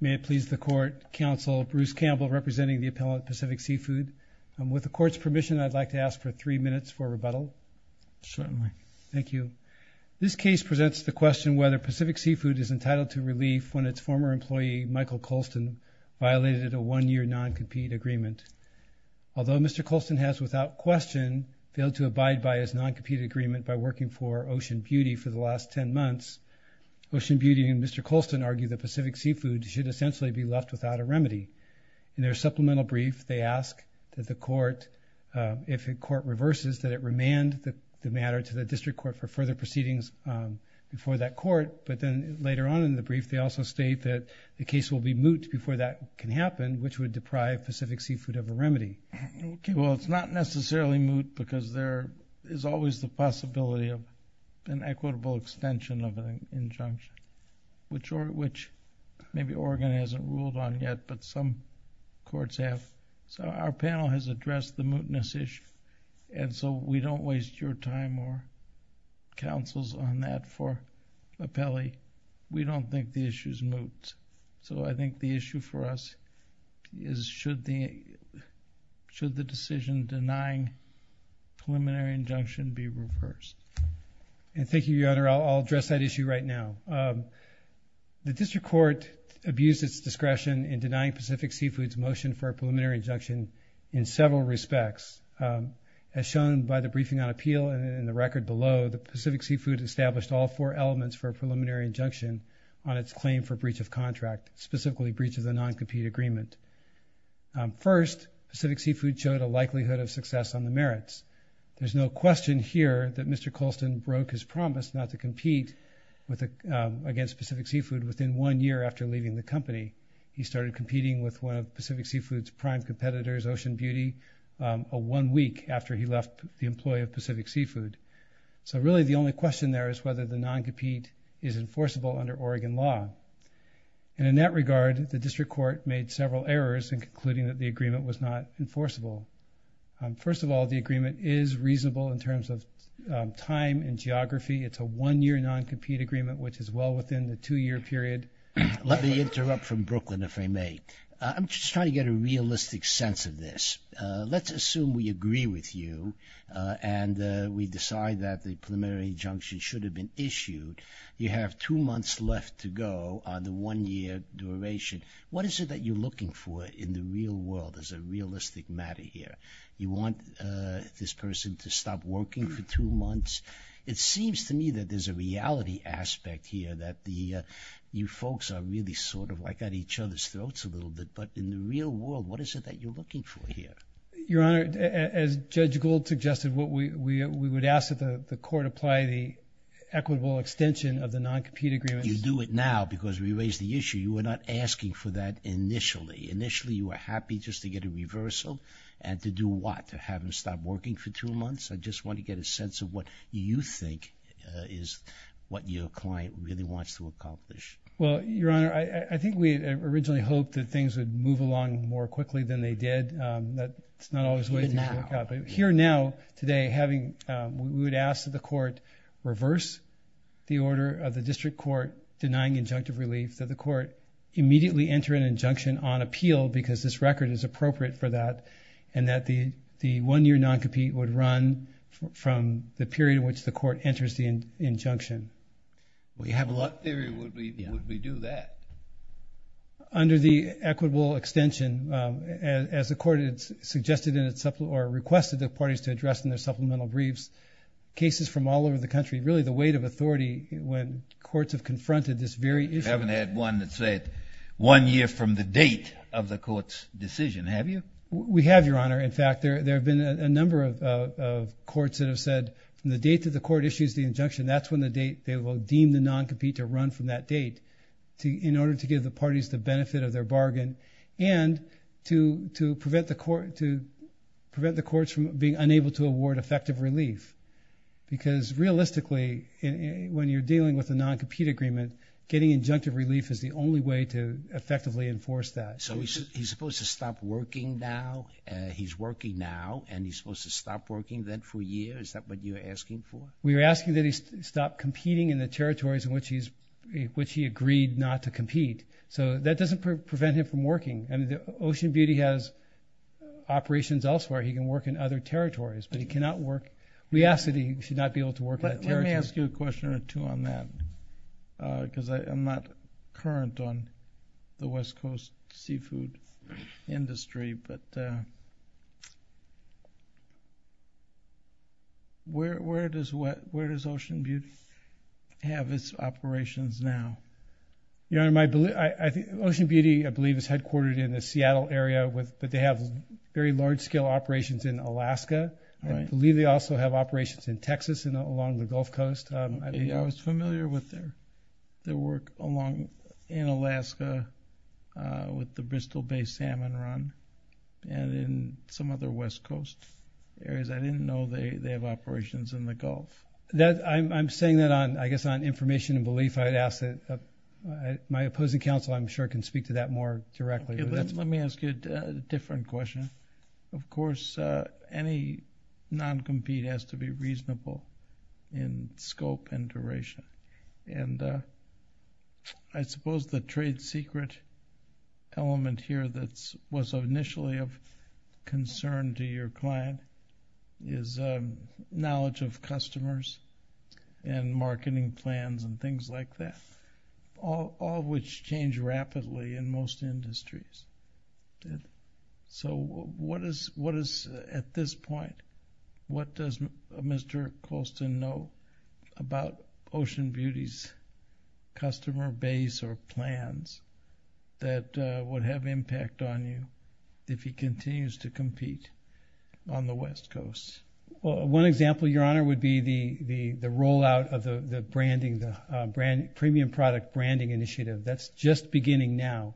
May it please the Court, Counsel Bruce Campbell representing the appellant, Pacific Seafood. With the Court's permission, I'd like to ask for three minutes for rebuttal. Certainly. Thank you. This case presents the question whether Pacific Seafood is entitled to relief when its former employee, Michael Colston, violated a one-year non-compete agreement. Although Mr. Colston has, without question, failed to abide by his non-compete agreement by working for Ocean Beauty for the last ten months, Ocean Beauty and Mr. Colston argue that Pacific Seafood should essentially be left without a remedy. In their supplemental brief, they ask that the Court, if the Court reverses, that it remand the matter to the District Court for further proceedings before that Court. But then later on in the brief, they also state that the case will be moot before that can happen, which would deprive Pacific Seafood of a remedy. Okay. Well, it's not necessarily moot because there is always the possibility of an equitable extension of an injunction, which maybe Oregon hasn't ruled on yet, but some courts have. Our panel has addressed the mootness issue, and so we don't waste your time or counsel's on that for appellee. We don't think the issue is moot. So I think the issue for us is should the decision denying preliminary injunction be reversed? Thank you, Your Honor. I'll address that issue right now. The District Court abused its discretion in denying Pacific Seafood's motion for a preliminary injunction in several respects. As shown by the briefing on appeal and the record below, the Pacific Seafood established all four elements for a preliminary injunction on its claim for breach of contract, specifically breach of the non-compete agreement. First, Pacific Seafood showed a likelihood of success on the merits. There's no question here that Mr. Colston broke his promise not to compete against Pacific Seafood within one year after leaving the company. He started competing with one of Pacific Seafood's prime competitors, Ocean Beauty, one week after he left the employ of Pacific Seafood. So really the only question there is whether the non-compete is enforceable under Oregon law. And in that regard, the District Court made several errors in concluding that the agreement was not enforceable. First of all, the agreement is reasonable in terms of time and geography. It's a one-year non-compete agreement, which is well within the two-year period. Let me interrupt from Brooklyn, if I may. I'm just trying to get a realistic sense of this. Let's assume we agree with you and we decide that the preliminary injunction should have been issued. You have two months left to go on the one-year duration. What is it that you're looking for in the real world as a realistic matter here? You want this person to stop working for two months? It seems to me that there's a reality aspect here that you folks are really sort of I got each other's throats a little bit, but in the real world, what is it that you're looking for here? Your Honor, as Judge Gould suggested, we would ask that the court apply the equitable extension of the non-compete agreement. You do it now because we raised the issue. You were not asking for that initially. Initially, you were happy just to get a reversal and to do what? To have him stop working for two months? I just want to get a sense of what you think is what your client really wants to accomplish. Your Honor, I think we originally hoped that things would move along more quickly than they did. That's not always the way things work out. Here now, today, we would ask that the court reverse the order of the district court denying injunctive relief, that the court immediately enter an injunction on appeal because this record is appropriate for that, and that the one-year non-compete would run from the period in which the court enters the injunction. Well, you have a lot of theory. Would we do that? Under the equitable extension, as the court requested the parties to address in their supplemental briefs, cases from all over the country, really the weight of authority when courts have confronted this very issue. You haven't had one that said one year from the date of the court's decision, have you? We have, Your Honor. In fact, there have been a number of courts that have said from the date that the court issues the injunction, that's when they will deem the non-compete to run from that date in order to give the parties the benefit of their bargain and to prevent the courts from being unable to award effective relief because realistically, when you're dealing with a non-compete agreement, getting injunctive relief is the only way to effectively enforce that. So he's supposed to stop working now? He's working now, and he's supposed to stop working then for a year? Is that what you're asking for? We're asking that he stop competing in the territories in which he agreed not to compete. So that doesn't prevent him from working. Ocean Beauty has operations elsewhere. He can work in other territories, but he cannot work. We ask that he should not be able to work in that territory. Let me ask you a question or two on that because I'm not current on the West Coast seafood industry. But where does Ocean Beauty have its operations now? Ocean Beauty, I believe, is headquartered in the Seattle area, but they have very large-scale operations in Alaska. I believe they also have operations in Texas and along the Gulf Coast. I was familiar with their work in Alaska with the Bristol Bay Salmon Run and in some other West Coast areas. I didn't know they have operations in the Gulf. I'm saying that, I guess, on information and belief. My opposing counsel, I'm sure, can speak to that more directly. Let me ask you a different question. Of course, any non-compete has to be reasonable in scope and duration. I suppose the trade secret element here that was initially of concern to your client is knowledge of customers and marketing plans and things like that, all of which change rapidly in most industries. At this point, what does Mr. Colston know about Ocean Beauty's customer base or plans that would have impact on you if he continues to compete on the West Coast? One example, Your Honor, would be the rollout of the premium product branding initiative. That's just beginning now.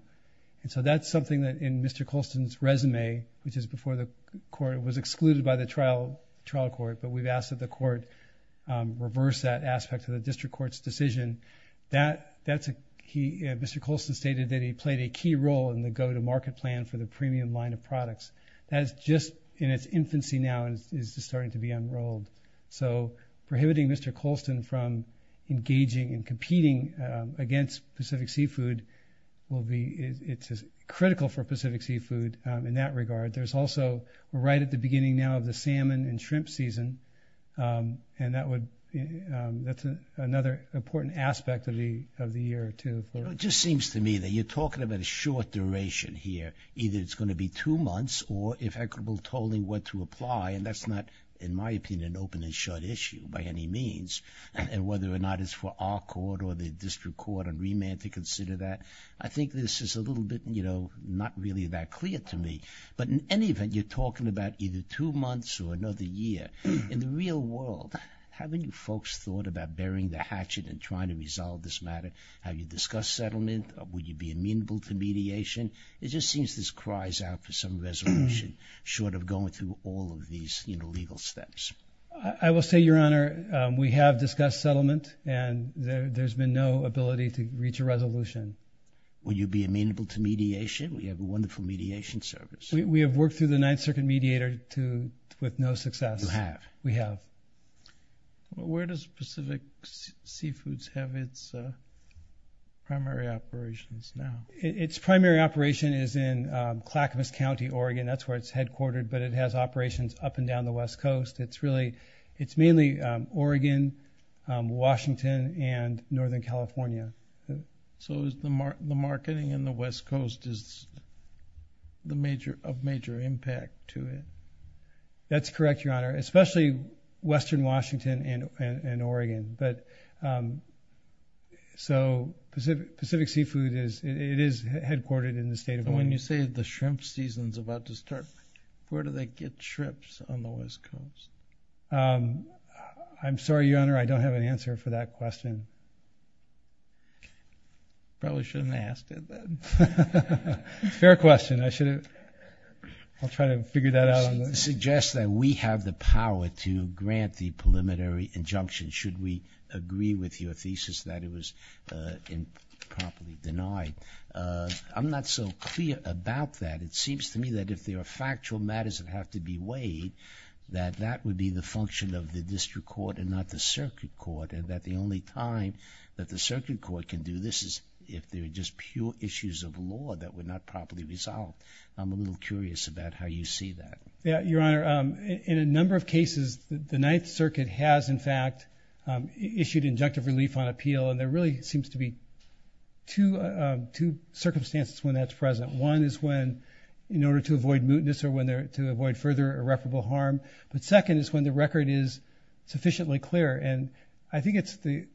That's something that in Mr. Colston's resume, which is before the court, was excluded by the trial court, but we've asked that the court reverse that aspect of the district court's decision. Mr. Colston stated that he played a key role in the go-to-market plan for the premium line of products. That is just in its infancy now and is just starting to be unrolled. Prohibiting Mr. Colston from engaging and competing against Pacific Seafood is critical for Pacific Seafood in that regard. There's also right at the beginning now of the salmon and shrimp season, and that's another important aspect of the year, too. It just seems to me that you're talking about a short duration here. Either it's going to be two months or if equitable tolling were to apply, and that's not, in my opinion, an open and shut issue by any means, and whether or not it's for our court or the district court and remand to consider that, I think this is a little bit, you know, not really that clear to me. But in any event, you're talking about either two months or another year. In the real world, haven't you folks thought about burying the hatchet and trying to resolve this matter? Have you discussed settlement? Would you be amenable to mediation? It just seems this cries out for some resolution short of going through all of these legal steps. I will say, Your Honor, we have discussed settlement, and there's been no ability to reach a resolution. Will you be amenable to mediation? We have a wonderful mediation service. We have worked through the Ninth Circuit mediator with no success. You have? We have. Where does Pacific Seafoods have its primary operations now? Its primary operation is in Clackamas County, Oregon. That's where it's headquartered, but it has operations up and down the West Coast. It's mainly Oregon, Washington, and Northern California. So the marketing in the West Coast is of major impact to it? That's correct, Your Honor, especially western Washington and Oregon. So Pacific Seafoods is headquartered in the state of Oregon. When you say the shrimp season is about to start, where do they get shrimps on the West Coast? I'm sorry, Your Honor, I don't have an answer for that question. You probably shouldn't have asked it then. It's a fair question. I'll try to figure that out. It suggests that we have the power to grant the preliminary injunction should we agree with your thesis that it was improperly denied. I'm not so clear about that. It seems to me that if there are factual matters that have to be weighed, that that would be the function of the district court and not the circuit court, and that the only time that the circuit court can do this is if there are just pure issues of law that were not properly resolved. I'm a little curious about how you see that. Your Honor, in a number of cases, the Ninth Circuit has, in fact, issued injunctive relief on appeal, and there really seems to be two circumstances when that's present. One is when in order to avoid mootness or to avoid further irreparable harm, but second is when the record is sufficiently clear, and I think it's the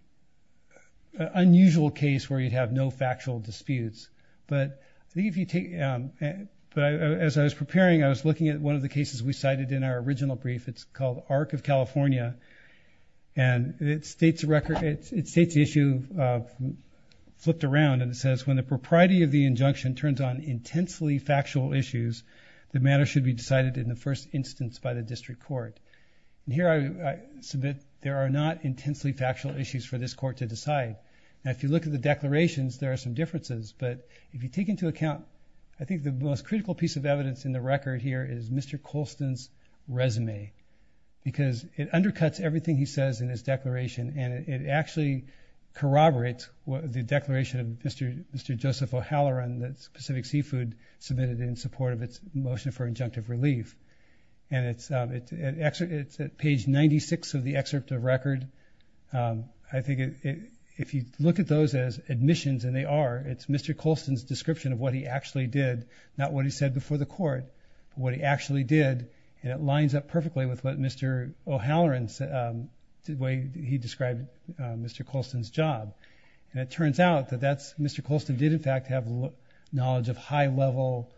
unusual case where you'd have no factual disputes. As I was preparing, I was looking at one of the cases we cited in our original brief. It's called Arc of California, and it states the issue flipped around, and it says when the propriety of the injunction turns on intensely factual issues, the matter should be decided in the first instance by the district court. Here I submit there are not intensely factual issues for this court to decide. Now, if you look at the declarations, there are some differences, but if you take into account I think the most critical piece of evidence in the record here is Mr. Colston's resume because it undercuts everything he says in his declaration, and it actually corroborates the declaration of Mr. Joseph O'Halloran that Pacific Seafood submitted in support of its motion for injunctive relief, and it's at page 96 of the excerpt of record. I think if you look at those as admissions, and they are, it's Mr. Colston's description of what he actually did, not what he said before the court, but what he actually did, and it lines up perfectly with what Mr. O'Halloran said, the way he described Mr. Colston's job, and it turns out that Mr. Colston did in fact have knowledge of high-level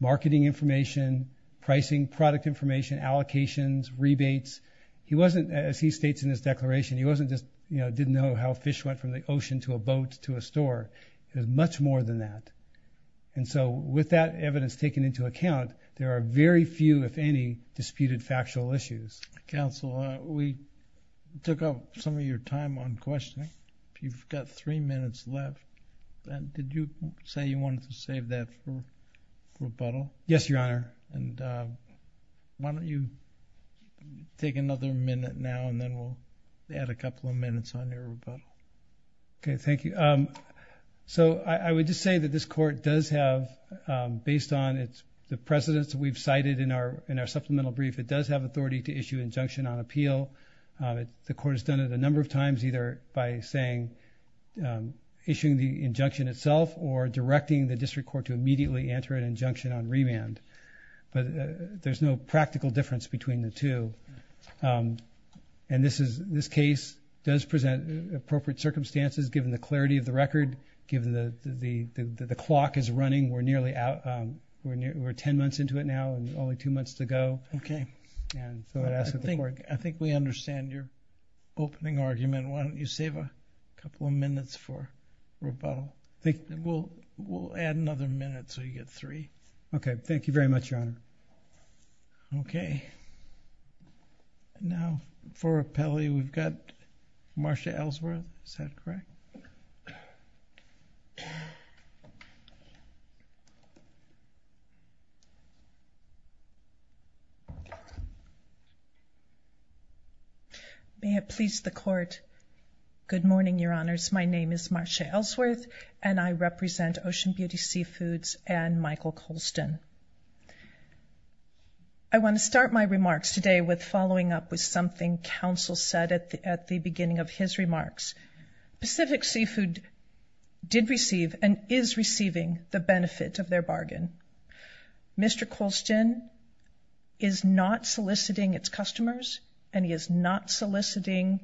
marketing information, pricing product information, allocations, rebates. He wasn't, as he states in his declaration, he wasn't just, you know, didn't know how fish went from the ocean to a boat to a store. It was much more than that, and so with that evidence taken into account, there are very few, if any, disputed factual issues. Counsel, we took up some of your time on questioning. You've got three minutes left, and did you say you wanted to save that for rebuttal? Yes, Your Honor. And why don't you take another minute now, and then we'll add a couple of minutes on your rebuttal. Okay, thank you. So I would just say that this court does have, based on the precedence we've cited in our supplemental brief, it does have authority to issue injunction on appeal. The court has done it a number of times, either by saying, issuing the injunction itself or directing the district court to immediately enter an injunction on remand, but there's no practical difference between the two. And this case does present appropriate circumstances given the clarity of the record, given that the clock is running. We're nearly out, we're ten months into it now and only two months to go. Okay. I think we understand your opening argument. Why don't you save a couple of minutes for rebuttal? We'll add another minute so you get three. Okay, thank you very much, Your Honor. Okay. Now, for repelli, we've got Marsha Ellsworth. Is that correct? Okay. May it please the court. Good morning, Your Honors. My name is Marsha Ellsworth, and I represent Ocean Beauty Seafoods and Michael Colston. I want to start my remarks today with following up with something counsel said at the beginning of his remarks. Pacific Seafood did receive and is receiving the benefit of their bargain. Mr. Colston is not soliciting its customers, and he is not soliciting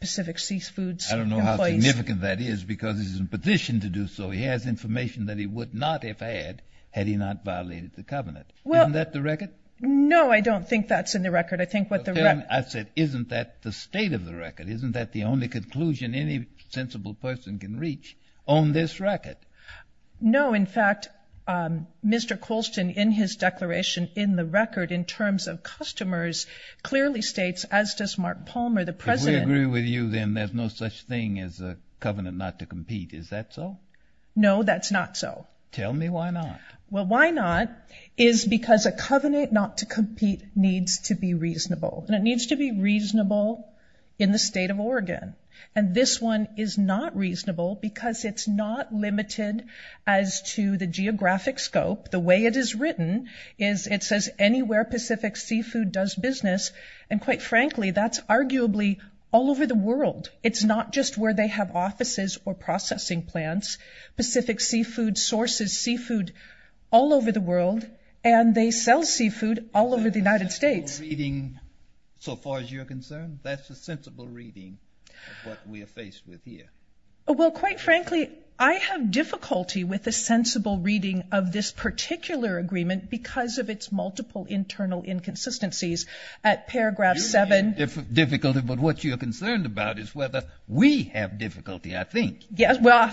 Pacific Seafood's employees. I don't know how significant that is because he's in a position to do so. He has information that he would not have had had he not violated the covenant. Isn't that the record? No, I don't think that's in the record. I think what the record is. I said, isn't that the state of the record? Isn't that the only conclusion any sensible person can reach on this record? No. In fact, Mr. Colston, in his declaration, in the record, in terms of customers, clearly states, as does Mark Palmer, the president. If we agree with you, then there's no such thing as a covenant not to compete. Is that so? No, that's not so. Tell me why not. Well, why not is because a covenant not to compete needs to be reasonable. And it needs to be reasonable in the state of Oregon. And this one is not reasonable because it's not limited as to the geographic scope. The way it is written is it says anywhere Pacific Seafood does business, and quite frankly, that's arguably all over the world. It's not just where they have offices or processing plants. Pacific Seafood sources seafood all over the world, and they sell seafood all over the United States. That's a sensible reading so far as you're concerned? That's a sensible reading of what we are faced with here. Well, quite frankly, I have difficulty with a sensible reading of this particular agreement because of its multiple internal inconsistencies. At paragraph 7. You have difficulty, but what you're concerned about is whether we have difficulty, I think. Yes, well,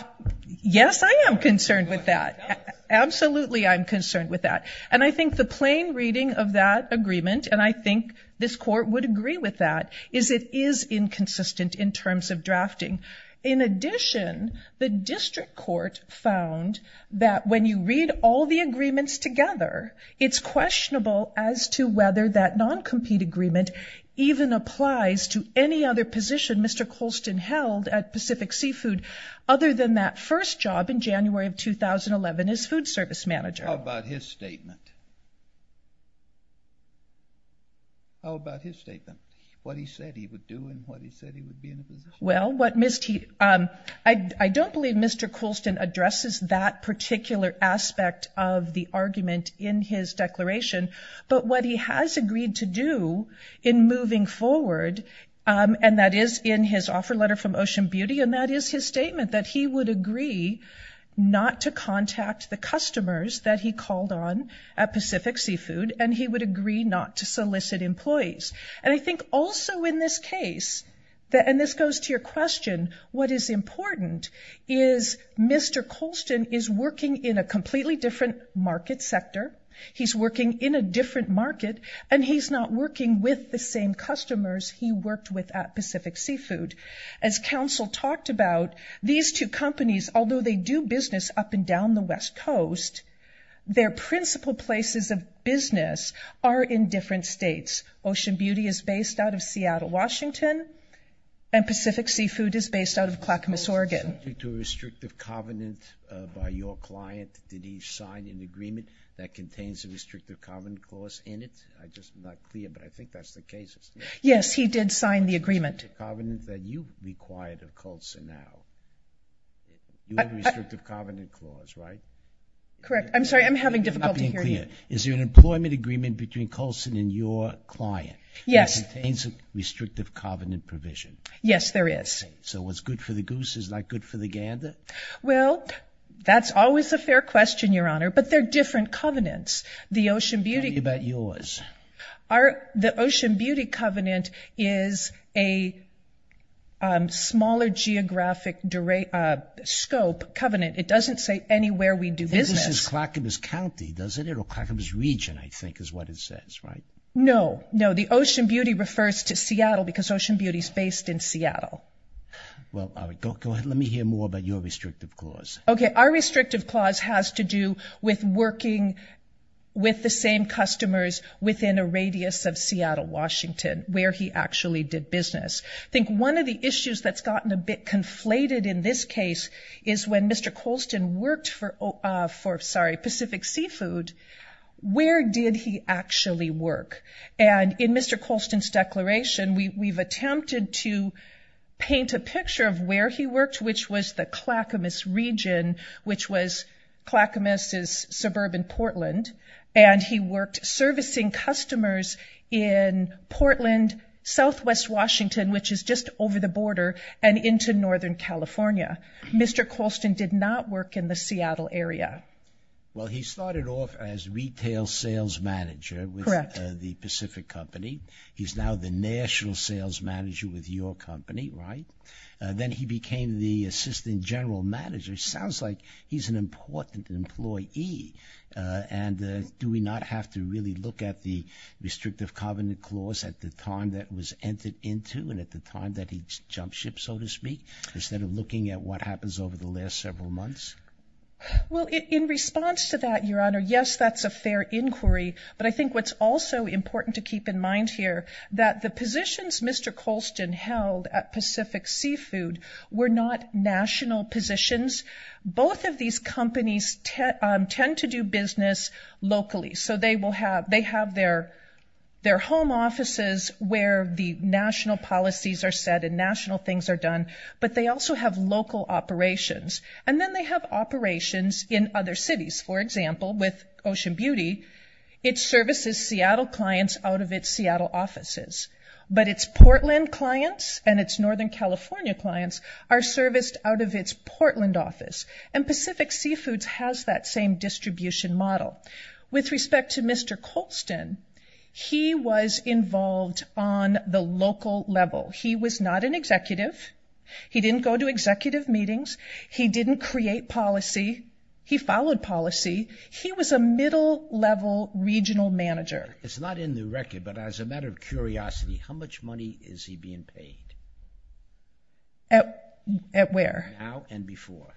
yes, I am concerned with that. Absolutely I'm concerned with that. And I think the plain reading of that agreement, and I think this court would agree with that, is it is inconsistent in terms of drafting. In addition, the district court found that when you read all the agreements together, it's questionable as to whether that non-compete agreement even applies to any other position Mr. Colston held at Pacific Seafood other than that first job in January of 2011 as food service manager. How about his statement? How about his statement? What he said he would do and what he said he would be in a position to do? Well, I don't believe Mr. Colston addresses that particular aspect of the argument in his declaration, but what he has agreed to do in moving forward, and that is in his offer letter from Ocean Beauty, and that is his statement that he would agree not to contact the customers that he called on at Pacific Seafood, and he would agree not to solicit employees. And I think also in this case, and this goes to your question, what is important is Mr. Colston is working in a completely different market sector. He's working in a different market, and he's not working with the same customers he worked with at Pacific Seafood. As counsel talked about, these two companies, although they do business up and down the West Coast, their principal places of business are in different states. Ocean Beauty is based out of Seattle, Washington, and Pacific Seafood is based out of Clackamas, Oregon. Was Mr. Colston subject to a restrictive covenant by your client? Did he sign an agreement that contains a restrictive covenant clause in it? I'm just not clear, but I think that's the case. Yes, he did sign the agreement. Restrictive covenant that you required of Colston now. You have a restrictive covenant clause, right? Correct. I'm sorry, I'm having difficulty hearing you. I'm not being clear. Is there an employment agreement between Colston and your client that contains a restrictive covenant provision? Yes, there is. So what's good for the goose is not good for the gander? Well, that's always a fair question, Your Honor, but they're different covenants. The Ocean Beauty- Tell me about yours. The Ocean Beauty covenant is a smaller geographic scope covenant. It doesn't say anywhere we do business. This is Clackamas County, doesn't it, or Clackamas Region, I think is what it says, right? No, no. The Ocean Beauty refers to Seattle because Ocean Beauty is based in Seattle. Well, all right. Go ahead. Let me hear more about your restrictive clause. Okay, our restrictive clause has to do with working with the same customers within a radius of Seattle, Washington, where he actually did business. I think one of the issues that's gotten a bit conflated in this case is when Mr. Colston worked for Pacific Seafood, where did he actually work? And in Mr. Colston's declaration, we've attempted to paint a picture of where he worked, which was the Clackamas Region, which was Clackamas' suburban Portland, and he worked servicing customers in Portland, southwest Washington, which is just over the border, and into northern California. Mr. Colston did not work in the Seattle area. Well, he started off as retail sales manager with the Pacific Company. He's now the national sales manager with your company, right? Then he became the assistant general manager. It sounds like he's an important employee, and do we not have to really look at the restrictive covenant clause at the time that it was entered into and at the time that he jumped ship, so to speak, instead of looking at what happens over the last several months? Well, in response to that, Your Honor, yes, that's a fair inquiry, but I think what's also important to keep in mind here, that the positions Mr. Colston held at Pacific Seafood were not national positions. Both of these companies tend to do business locally, so they have their home offices where the national policies are set and national things are done, but they also have local operations, and then they have operations in other cities. For example, with Ocean Beauty, it services Seattle clients out of its Seattle offices, but its Portland clients and its northern California clients are serviced out of its Portland office, and Pacific Seafoods has that same distribution model. With respect to Mr. Colston, he was involved on the local level. He was not an executive. He didn't go to executive meetings. He didn't create policy. He followed policy. He was a middle-level regional manager. It's not in the record, but as a matter of curiosity, how much money is he being paid? At where? Now and before.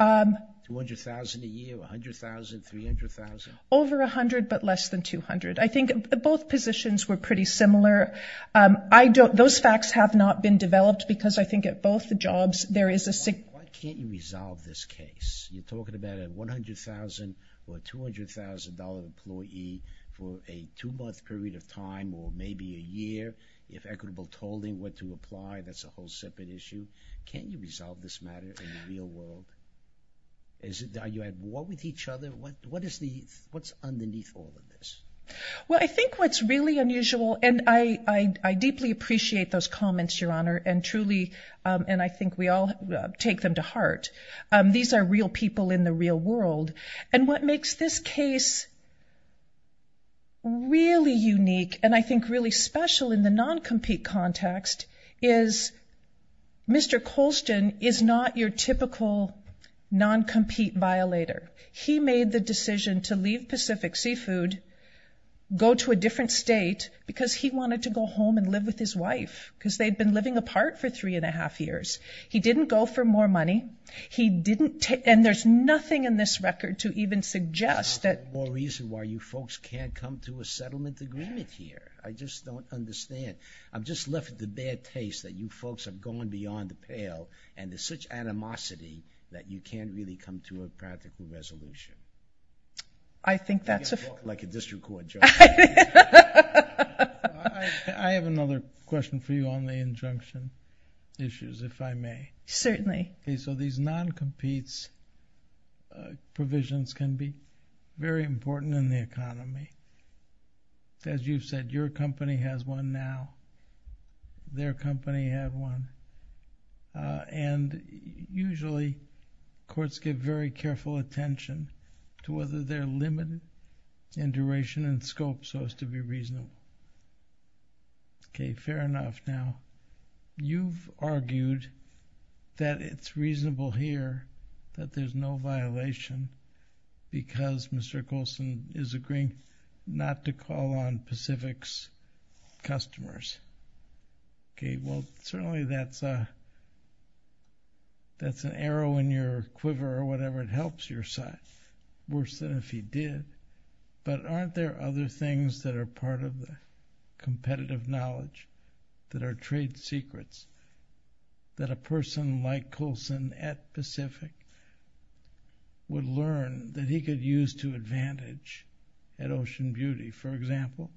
$200,000 a year, $100,000, $300,000? Over $100,000, but less than $200,000. I think both positions were pretty similar. Those facts have not been developed because I think at both the jobs there is a Why can't you resolve this case? You're talking about a $100,000 or a $200,000 employee for a two-month period of time or maybe a year if equitable tolling were to apply. That's a whole separate issue. Can you resolve this matter in the real world? Are you at war with each other? What's underneath all of this? Well, I think what's really unusual, and I deeply appreciate those comments, Your Honor, and I think we all take them to heart. These are real people in the real world. And what makes this case really unique and I think really special in the non-compete context is Mr. Colston is not your typical non-compete violator. He made the decision to leave Pacific Seafood, go to a different state, because he wanted to go home and live with his wife because they'd been living apart for three and a half years. He didn't go for more money. And there's nothing in this record to even suggest that... There's no reason why you folks can't come to a settlement agreement here. I just don't understand. I'm just left with the bad taste that you folks are going beyond the pale and to such animosity that you can't really come to a practical resolution. I think that's a... You're talking like a district court judge. I have another question for you on the injunction issues, if I may. Certainly. So these non-competes provisions can be very important in the economy. As you've said, your company has one now. Their company has one. And usually courts give very careful attention to whether they're limited in duration and scope so as to be reasonable. Okay, fair enough. Now, you've argued that it's reasonable here that there's no violation because Mr. Coulson is agreeing not to call on Pacific's customers. Okay, well, certainly that's an arrow in your quiver or whatever. It helps your side worse than if he did. But aren't there other things that are part of the competitive knowledge that are trade secrets that a person like Coulson at Pacific would learn that he could use to advantage at Ocean Beauty? For example,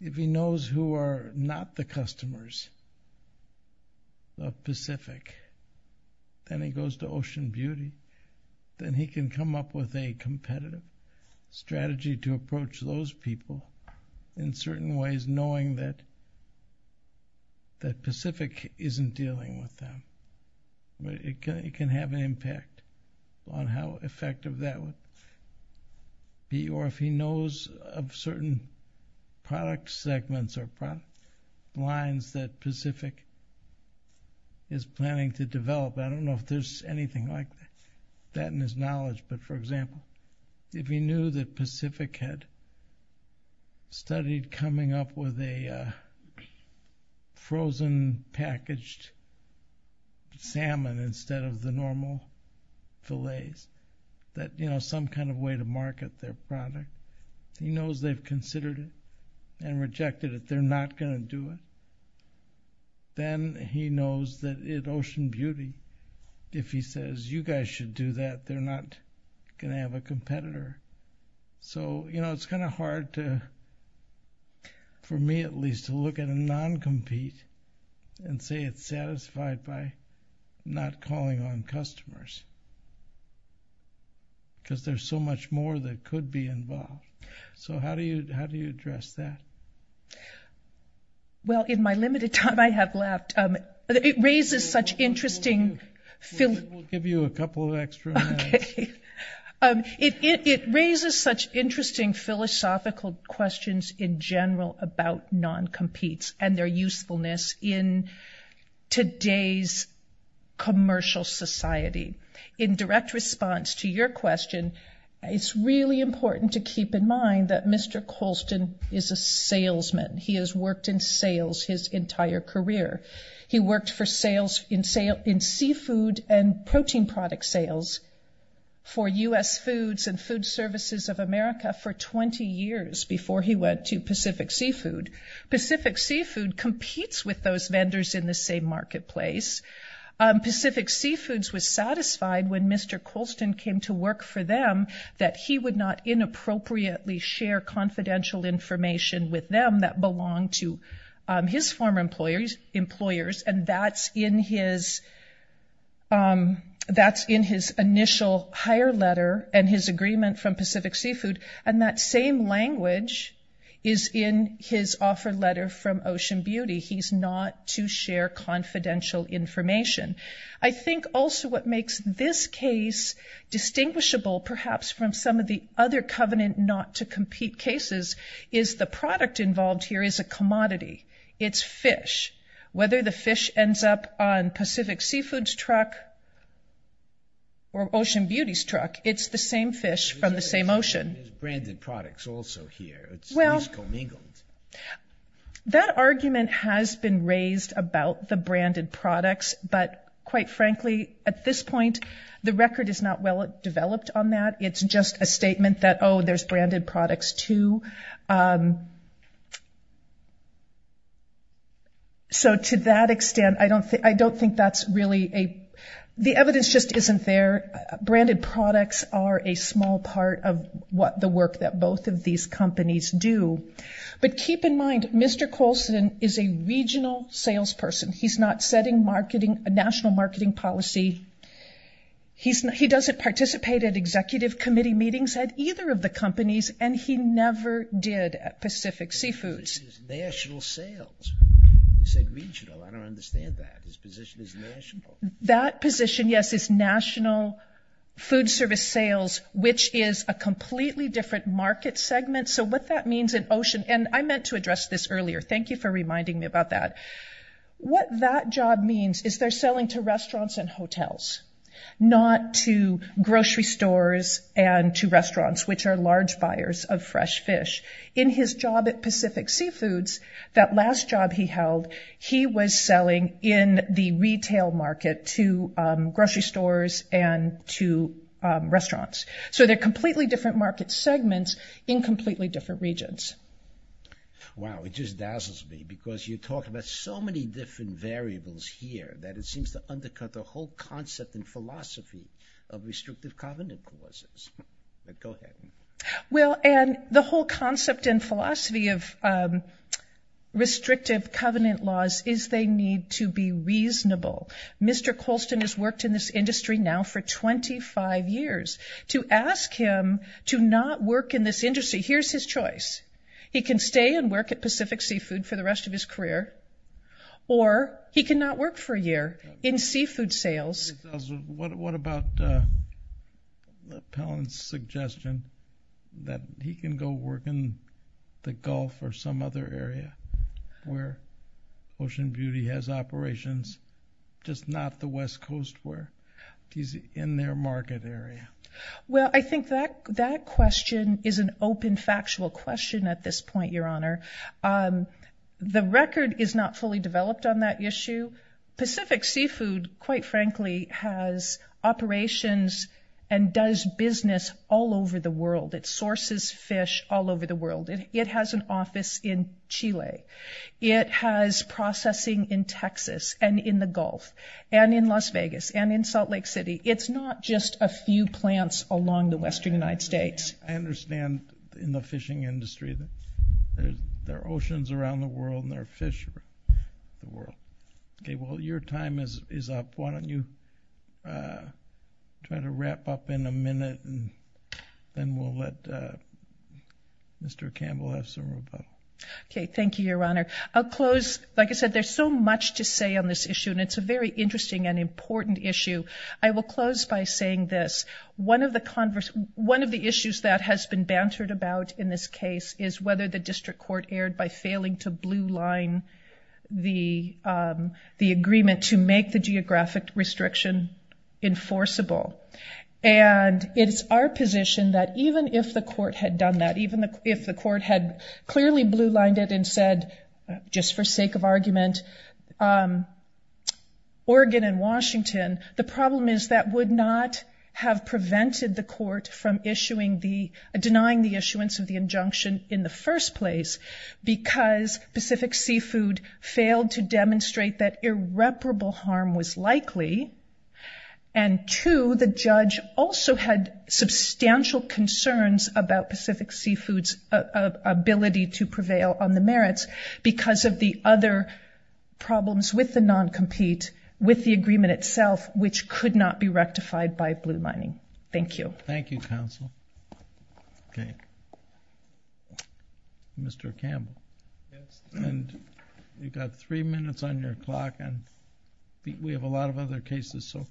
if he knows who are not the customers of Pacific, then he goes to Ocean Beauty, then he can come up with a competitive strategy to approach those people in certain ways knowing that Pacific isn't dealing with them. It can have an impact on how effective that would be, or if he knows of certain product segments or lines that Pacific is planning to develop. I don't know if there's anything like that in his knowledge. But, for example, if he knew that Pacific had studied coming up with a frozen packaged salmon instead of the normal fillets, some kind of way to market their product, he knows they've considered it and rejected it. They're not going to do it. Then he knows that at Ocean Beauty, if he says, you guys should do that, they're not going to have a competitor. It's kind of hard, for me at least, to look at a non-compete and say it's satisfied by not calling on customers because there's so much more that could be involved. How do you address that? Well, in my limited time I have left, it raises such interesting feelings. We'll give you a couple of extra minutes. It raises such interesting philosophical questions in general about non-competes and their usefulness in today's commercial society. In direct response to your question, it's really important to keep in mind that Mr. Colston is a salesman. He has worked in sales his entire career. He worked in seafood and protein product sales for U.S. Foods and Food Services of America for 20 years before he went to Pacific Seafood. Pacific Seafood competes with those vendors in the same marketplace. Pacific Seafoods was satisfied when Mr. Colston came to work for them that he would not inappropriately share confidential information with them that belonged to his former employers, and that's in his initial hire letter and his agreement from Pacific Seafood, and that same language is in his offer letter from Ocean Beauty. He's not to share confidential information. I think also what makes this case distinguishable, perhaps from some of the other covenant not-to-compete cases, is the product involved here is a commodity. It's fish. Whether the fish ends up on Pacific Seafood's truck or Ocean Beauty's truck, it's the same fish from the same ocean. There's branded products also here. Well, that argument has been raised about the branded products, but quite frankly at this point the record is not well developed on that. It's just a statement that, oh, there's branded products too. So to that extent, I don't think that's really a – the evidence just isn't there. Branded products are a small part of the work that both of these companies do. But keep in mind, Mr. Colston is a regional salesperson. He's not setting a national marketing policy. He doesn't participate at executive committee meetings at either of the companies, and he never did at Pacific Seafoods. National sales. You said regional. I don't understand that. His position is national. That position, yes, is national food service sales, which is a completely different market segment. So what that means at Ocean – and I meant to address this earlier. Thank you for reminding me about that. What that job means is they're selling to restaurants and hotels, not to grocery stores and to restaurants, which are large buyers of fresh fish. In his job at Pacific Seafoods, that last job he held, he was selling in the retail market to grocery stores and to restaurants. So they're completely different market segments in completely different regions. Wow, it just dazzles me because you talk about so many different variables here that it seems to undercut the whole concept and philosophy of restrictive covenant clauses. Go ahead. Well, and the whole concept and philosophy of restrictive covenant laws is they need to be reasonable. Mr. Colston has worked in this industry now for 25 years. To ask him to not work in this industry, here's his choice. He can stay and work at Pacific Seafood for the rest of his career, or he can not work for a year in seafood sales. What about Palin's suggestion that he can go work in the Gulf or some other area where Ocean Beauty has operations, just not the West Coast where he's in their market area? Well, I think that question is an open, factual question at this point, Your Honor. The record is not fully developed on that issue. Pacific Seafood, quite frankly, has operations and does business all over the world. It sources fish all over the world. It has an office in Chile. It has processing in Texas and in the Gulf and in Las Vegas and in Salt Lake City. It's not just a few plants along the western United States. I understand in the fishing industry there are oceans around the world and there are fish around the world. Okay, well, your time is up. Why don't you try to wrap up in a minute, and then we'll let Mr. Campbell have some rebuttal. Okay, thank you, Your Honor. I'll close. Like I said, there's so much to say on this issue, and it's a very interesting and important issue. I will close by saying this. One of the issues that has been bantered about in this case is whether the district court erred by failing to blue line the agreement to make the geographic restriction enforceable. And it is our position that even if the court had done that, even if the court had clearly blue lined it and said, just for sake of argument, Oregon and Washington, the problem is that would not have prevented the court from denying the issuance of the injunction in the first place because Pacific Seafood failed to demonstrate that irreparable harm was likely, and two, the judge also had substantial concerns about Pacific Seafood's ability to prevail on the merits because of the other problems with the non-compete, with the agreement itself, which could not be rectified by blue lining. Thank you. Thank you, counsel. Okay. Mr. Campbell. And you've got three minutes on your clock, and we have a lot of other cases, so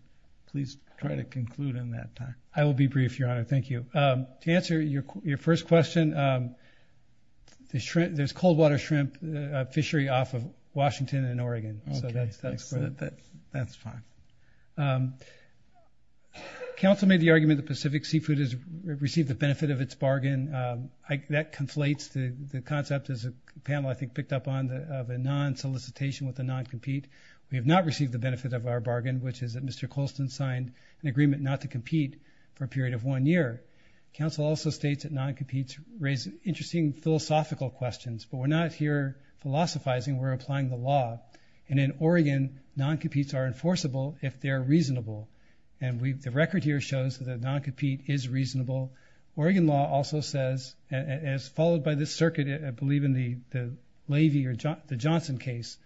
please try to conclude in that time. I will be brief, Your Honor. Thank you. To answer your first question, there's cold-water shrimp fishery off of Washington and Oregon, so that's fine. Counsel made the argument that Pacific Seafood has received the benefit of its bargain. That conflates the concept, as the panel, I think, of a non-solicitation with a non-compete. We have not received the benefit of our bargain, which is that Mr. Colston signed an agreement not to compete for a period of one year. Counsel also states that non-competes raise interesting philosophical questions, but we're not here philosophizing. We're applying the law. And in Oregon, non-competes are enforceable if they're reasonable, and the record here shows that a non-compete is reasonable. Oregon law also says, as followed by this circuit, I believe in the Levy or the Johnson case,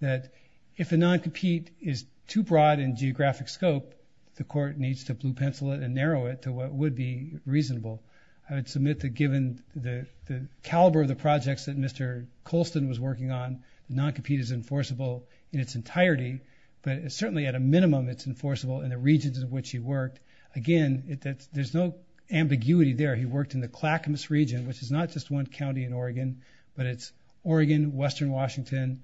that if a non-compete is too broad in geographic scope, the court needs to blue-pencil it and narrow it to what would be reasonable. I would submit that given the caliber of the projects that Mr. Colston was working on, non-compete is enforceable in its entirety, but certainly at a minimum it's enforceable in the regions in which he worked. Again, there's no ambiguity there. He worked in the Clackamas region, which is not just one county in Oregon, but it's Oregon, western Washington,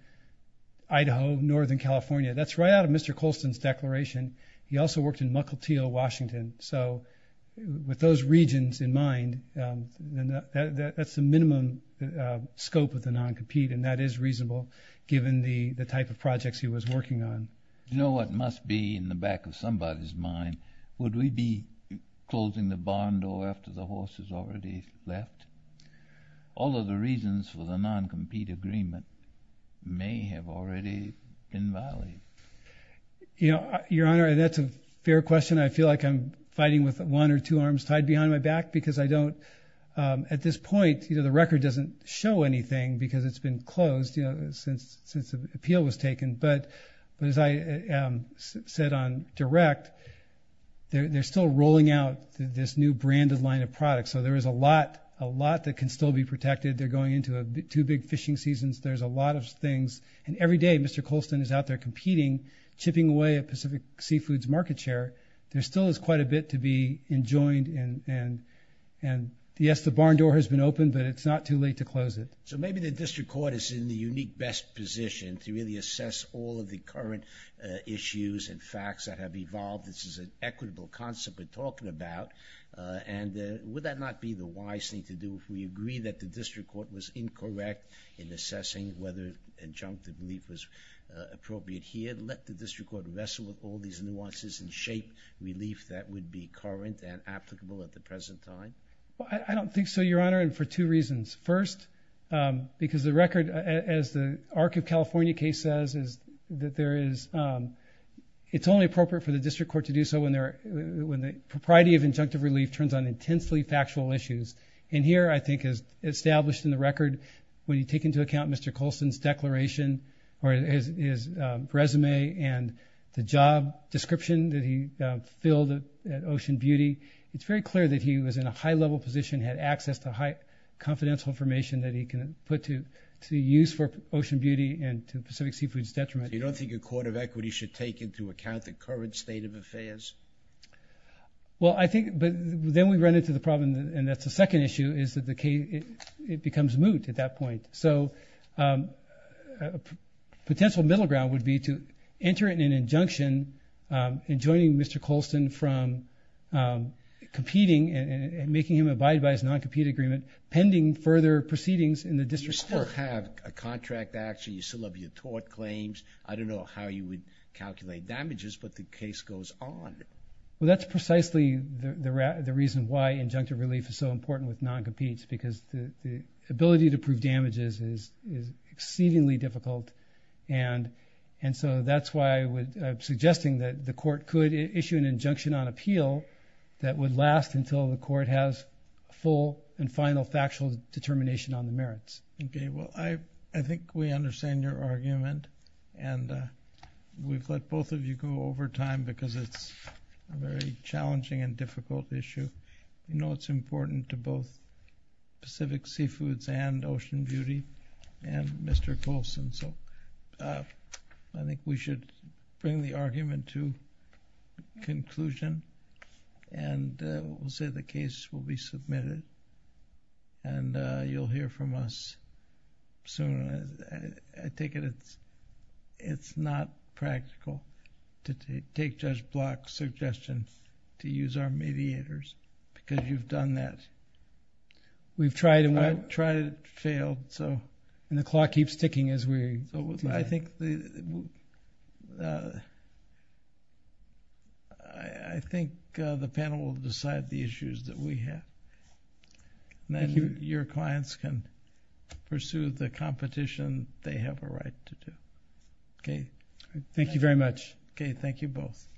Idaho, northern California. That's right out of Mr. Colston's declaration. He also worked in Muckleteal, Washington. So with those regions in mind, that's the minimum scope of the non-compete, and that is reasonable given the type of projects he was working on. You know what must be in the back of somebody's mind? Would we be closing the barn door after the horse has already left? All of the reasons for the non-compete agreement may have already been violated. Your Honor, that's a fair question. I feel like I'm fighting with one or two arms tied behind my back because I don't, at this point the record doesn't show anything because it's been closed since the appeal was taken. But as I said on direct, they're still rolling out this new branded line of products. So there is a lot that can still be protected. They're going into two big fishing seasons. There's a lot of things. And every day Mr. Colston is out there competing, chipping away at Pacific Seafood's market share. There still is quite a bit to be enjoined. And yes, the barn door has been opened, but it's not too late to close it. So maybe the district court is in the unique best position to really assess all of the current issues and facts that have evolved. This is an equitable concept we're talking about. And would that not be the wise thing to do if we agree that the district court was incorrect in assessing whether injunctive relief was appropriate here? Let the district court wrestle with all these nuances and shape relief that would be current and applicable at the present time? I don't think so, Your Honor, and for two reasons. First, because the record, as the Arc of California case says, that it's only appropriate for the district court to do so when the propriety of injunctive relief turns on intensely factual issues. And here, I think, as established in the record, when you take into account Mr. Colston's declaration or his resume and the job description that he filled at Ocean Beauty, it's very clear that he was in a high-level position, had access to confidential information that he could put to use for Ocean Beauty and to Pacific Seafood's detriment. You don't think a court of equity should take into account the current state of affairs? Well, I think then we run into the problem, and that's the second issue, is that it becomes moot at that point. So a potential middle ground would be to enter it in an injunction and joining Mr. Colston from competing and making him abide by his non-compete agreement pending further proceedings in the district court. You still have a contract action. You still have your tort claims. I don't know how you would calculate damages, but the case goes on. Well, that's precisely the reason why injunctive relief is so important with non-competes because the ability to prove damages is exceedingly difficult. And so that's why I'm suggesting that the court could issue an injunction on appeal that would last until the court has full and final factual determination on the merits. Okay, well, I think we understand your argument, and we've let both of you go over time because it's a very challenging and difficult issue. You know it's important to both Pacific Seafoods and Ocean Beauty and Mr. Colston. So I think we should bring the argument to conclusion, and we'll say the case will be submitted, and you'll hear from us soon. I take it it's not practical to take Judge Block's suggestion to use our mediators because you've done that. We've tried and failed. And the clock keeps ticking as we go. I think the panel will decide the issues that we have. Then your clients can pursue the competition they have a right to do. Okay, thank you very much. Okay, thank you both.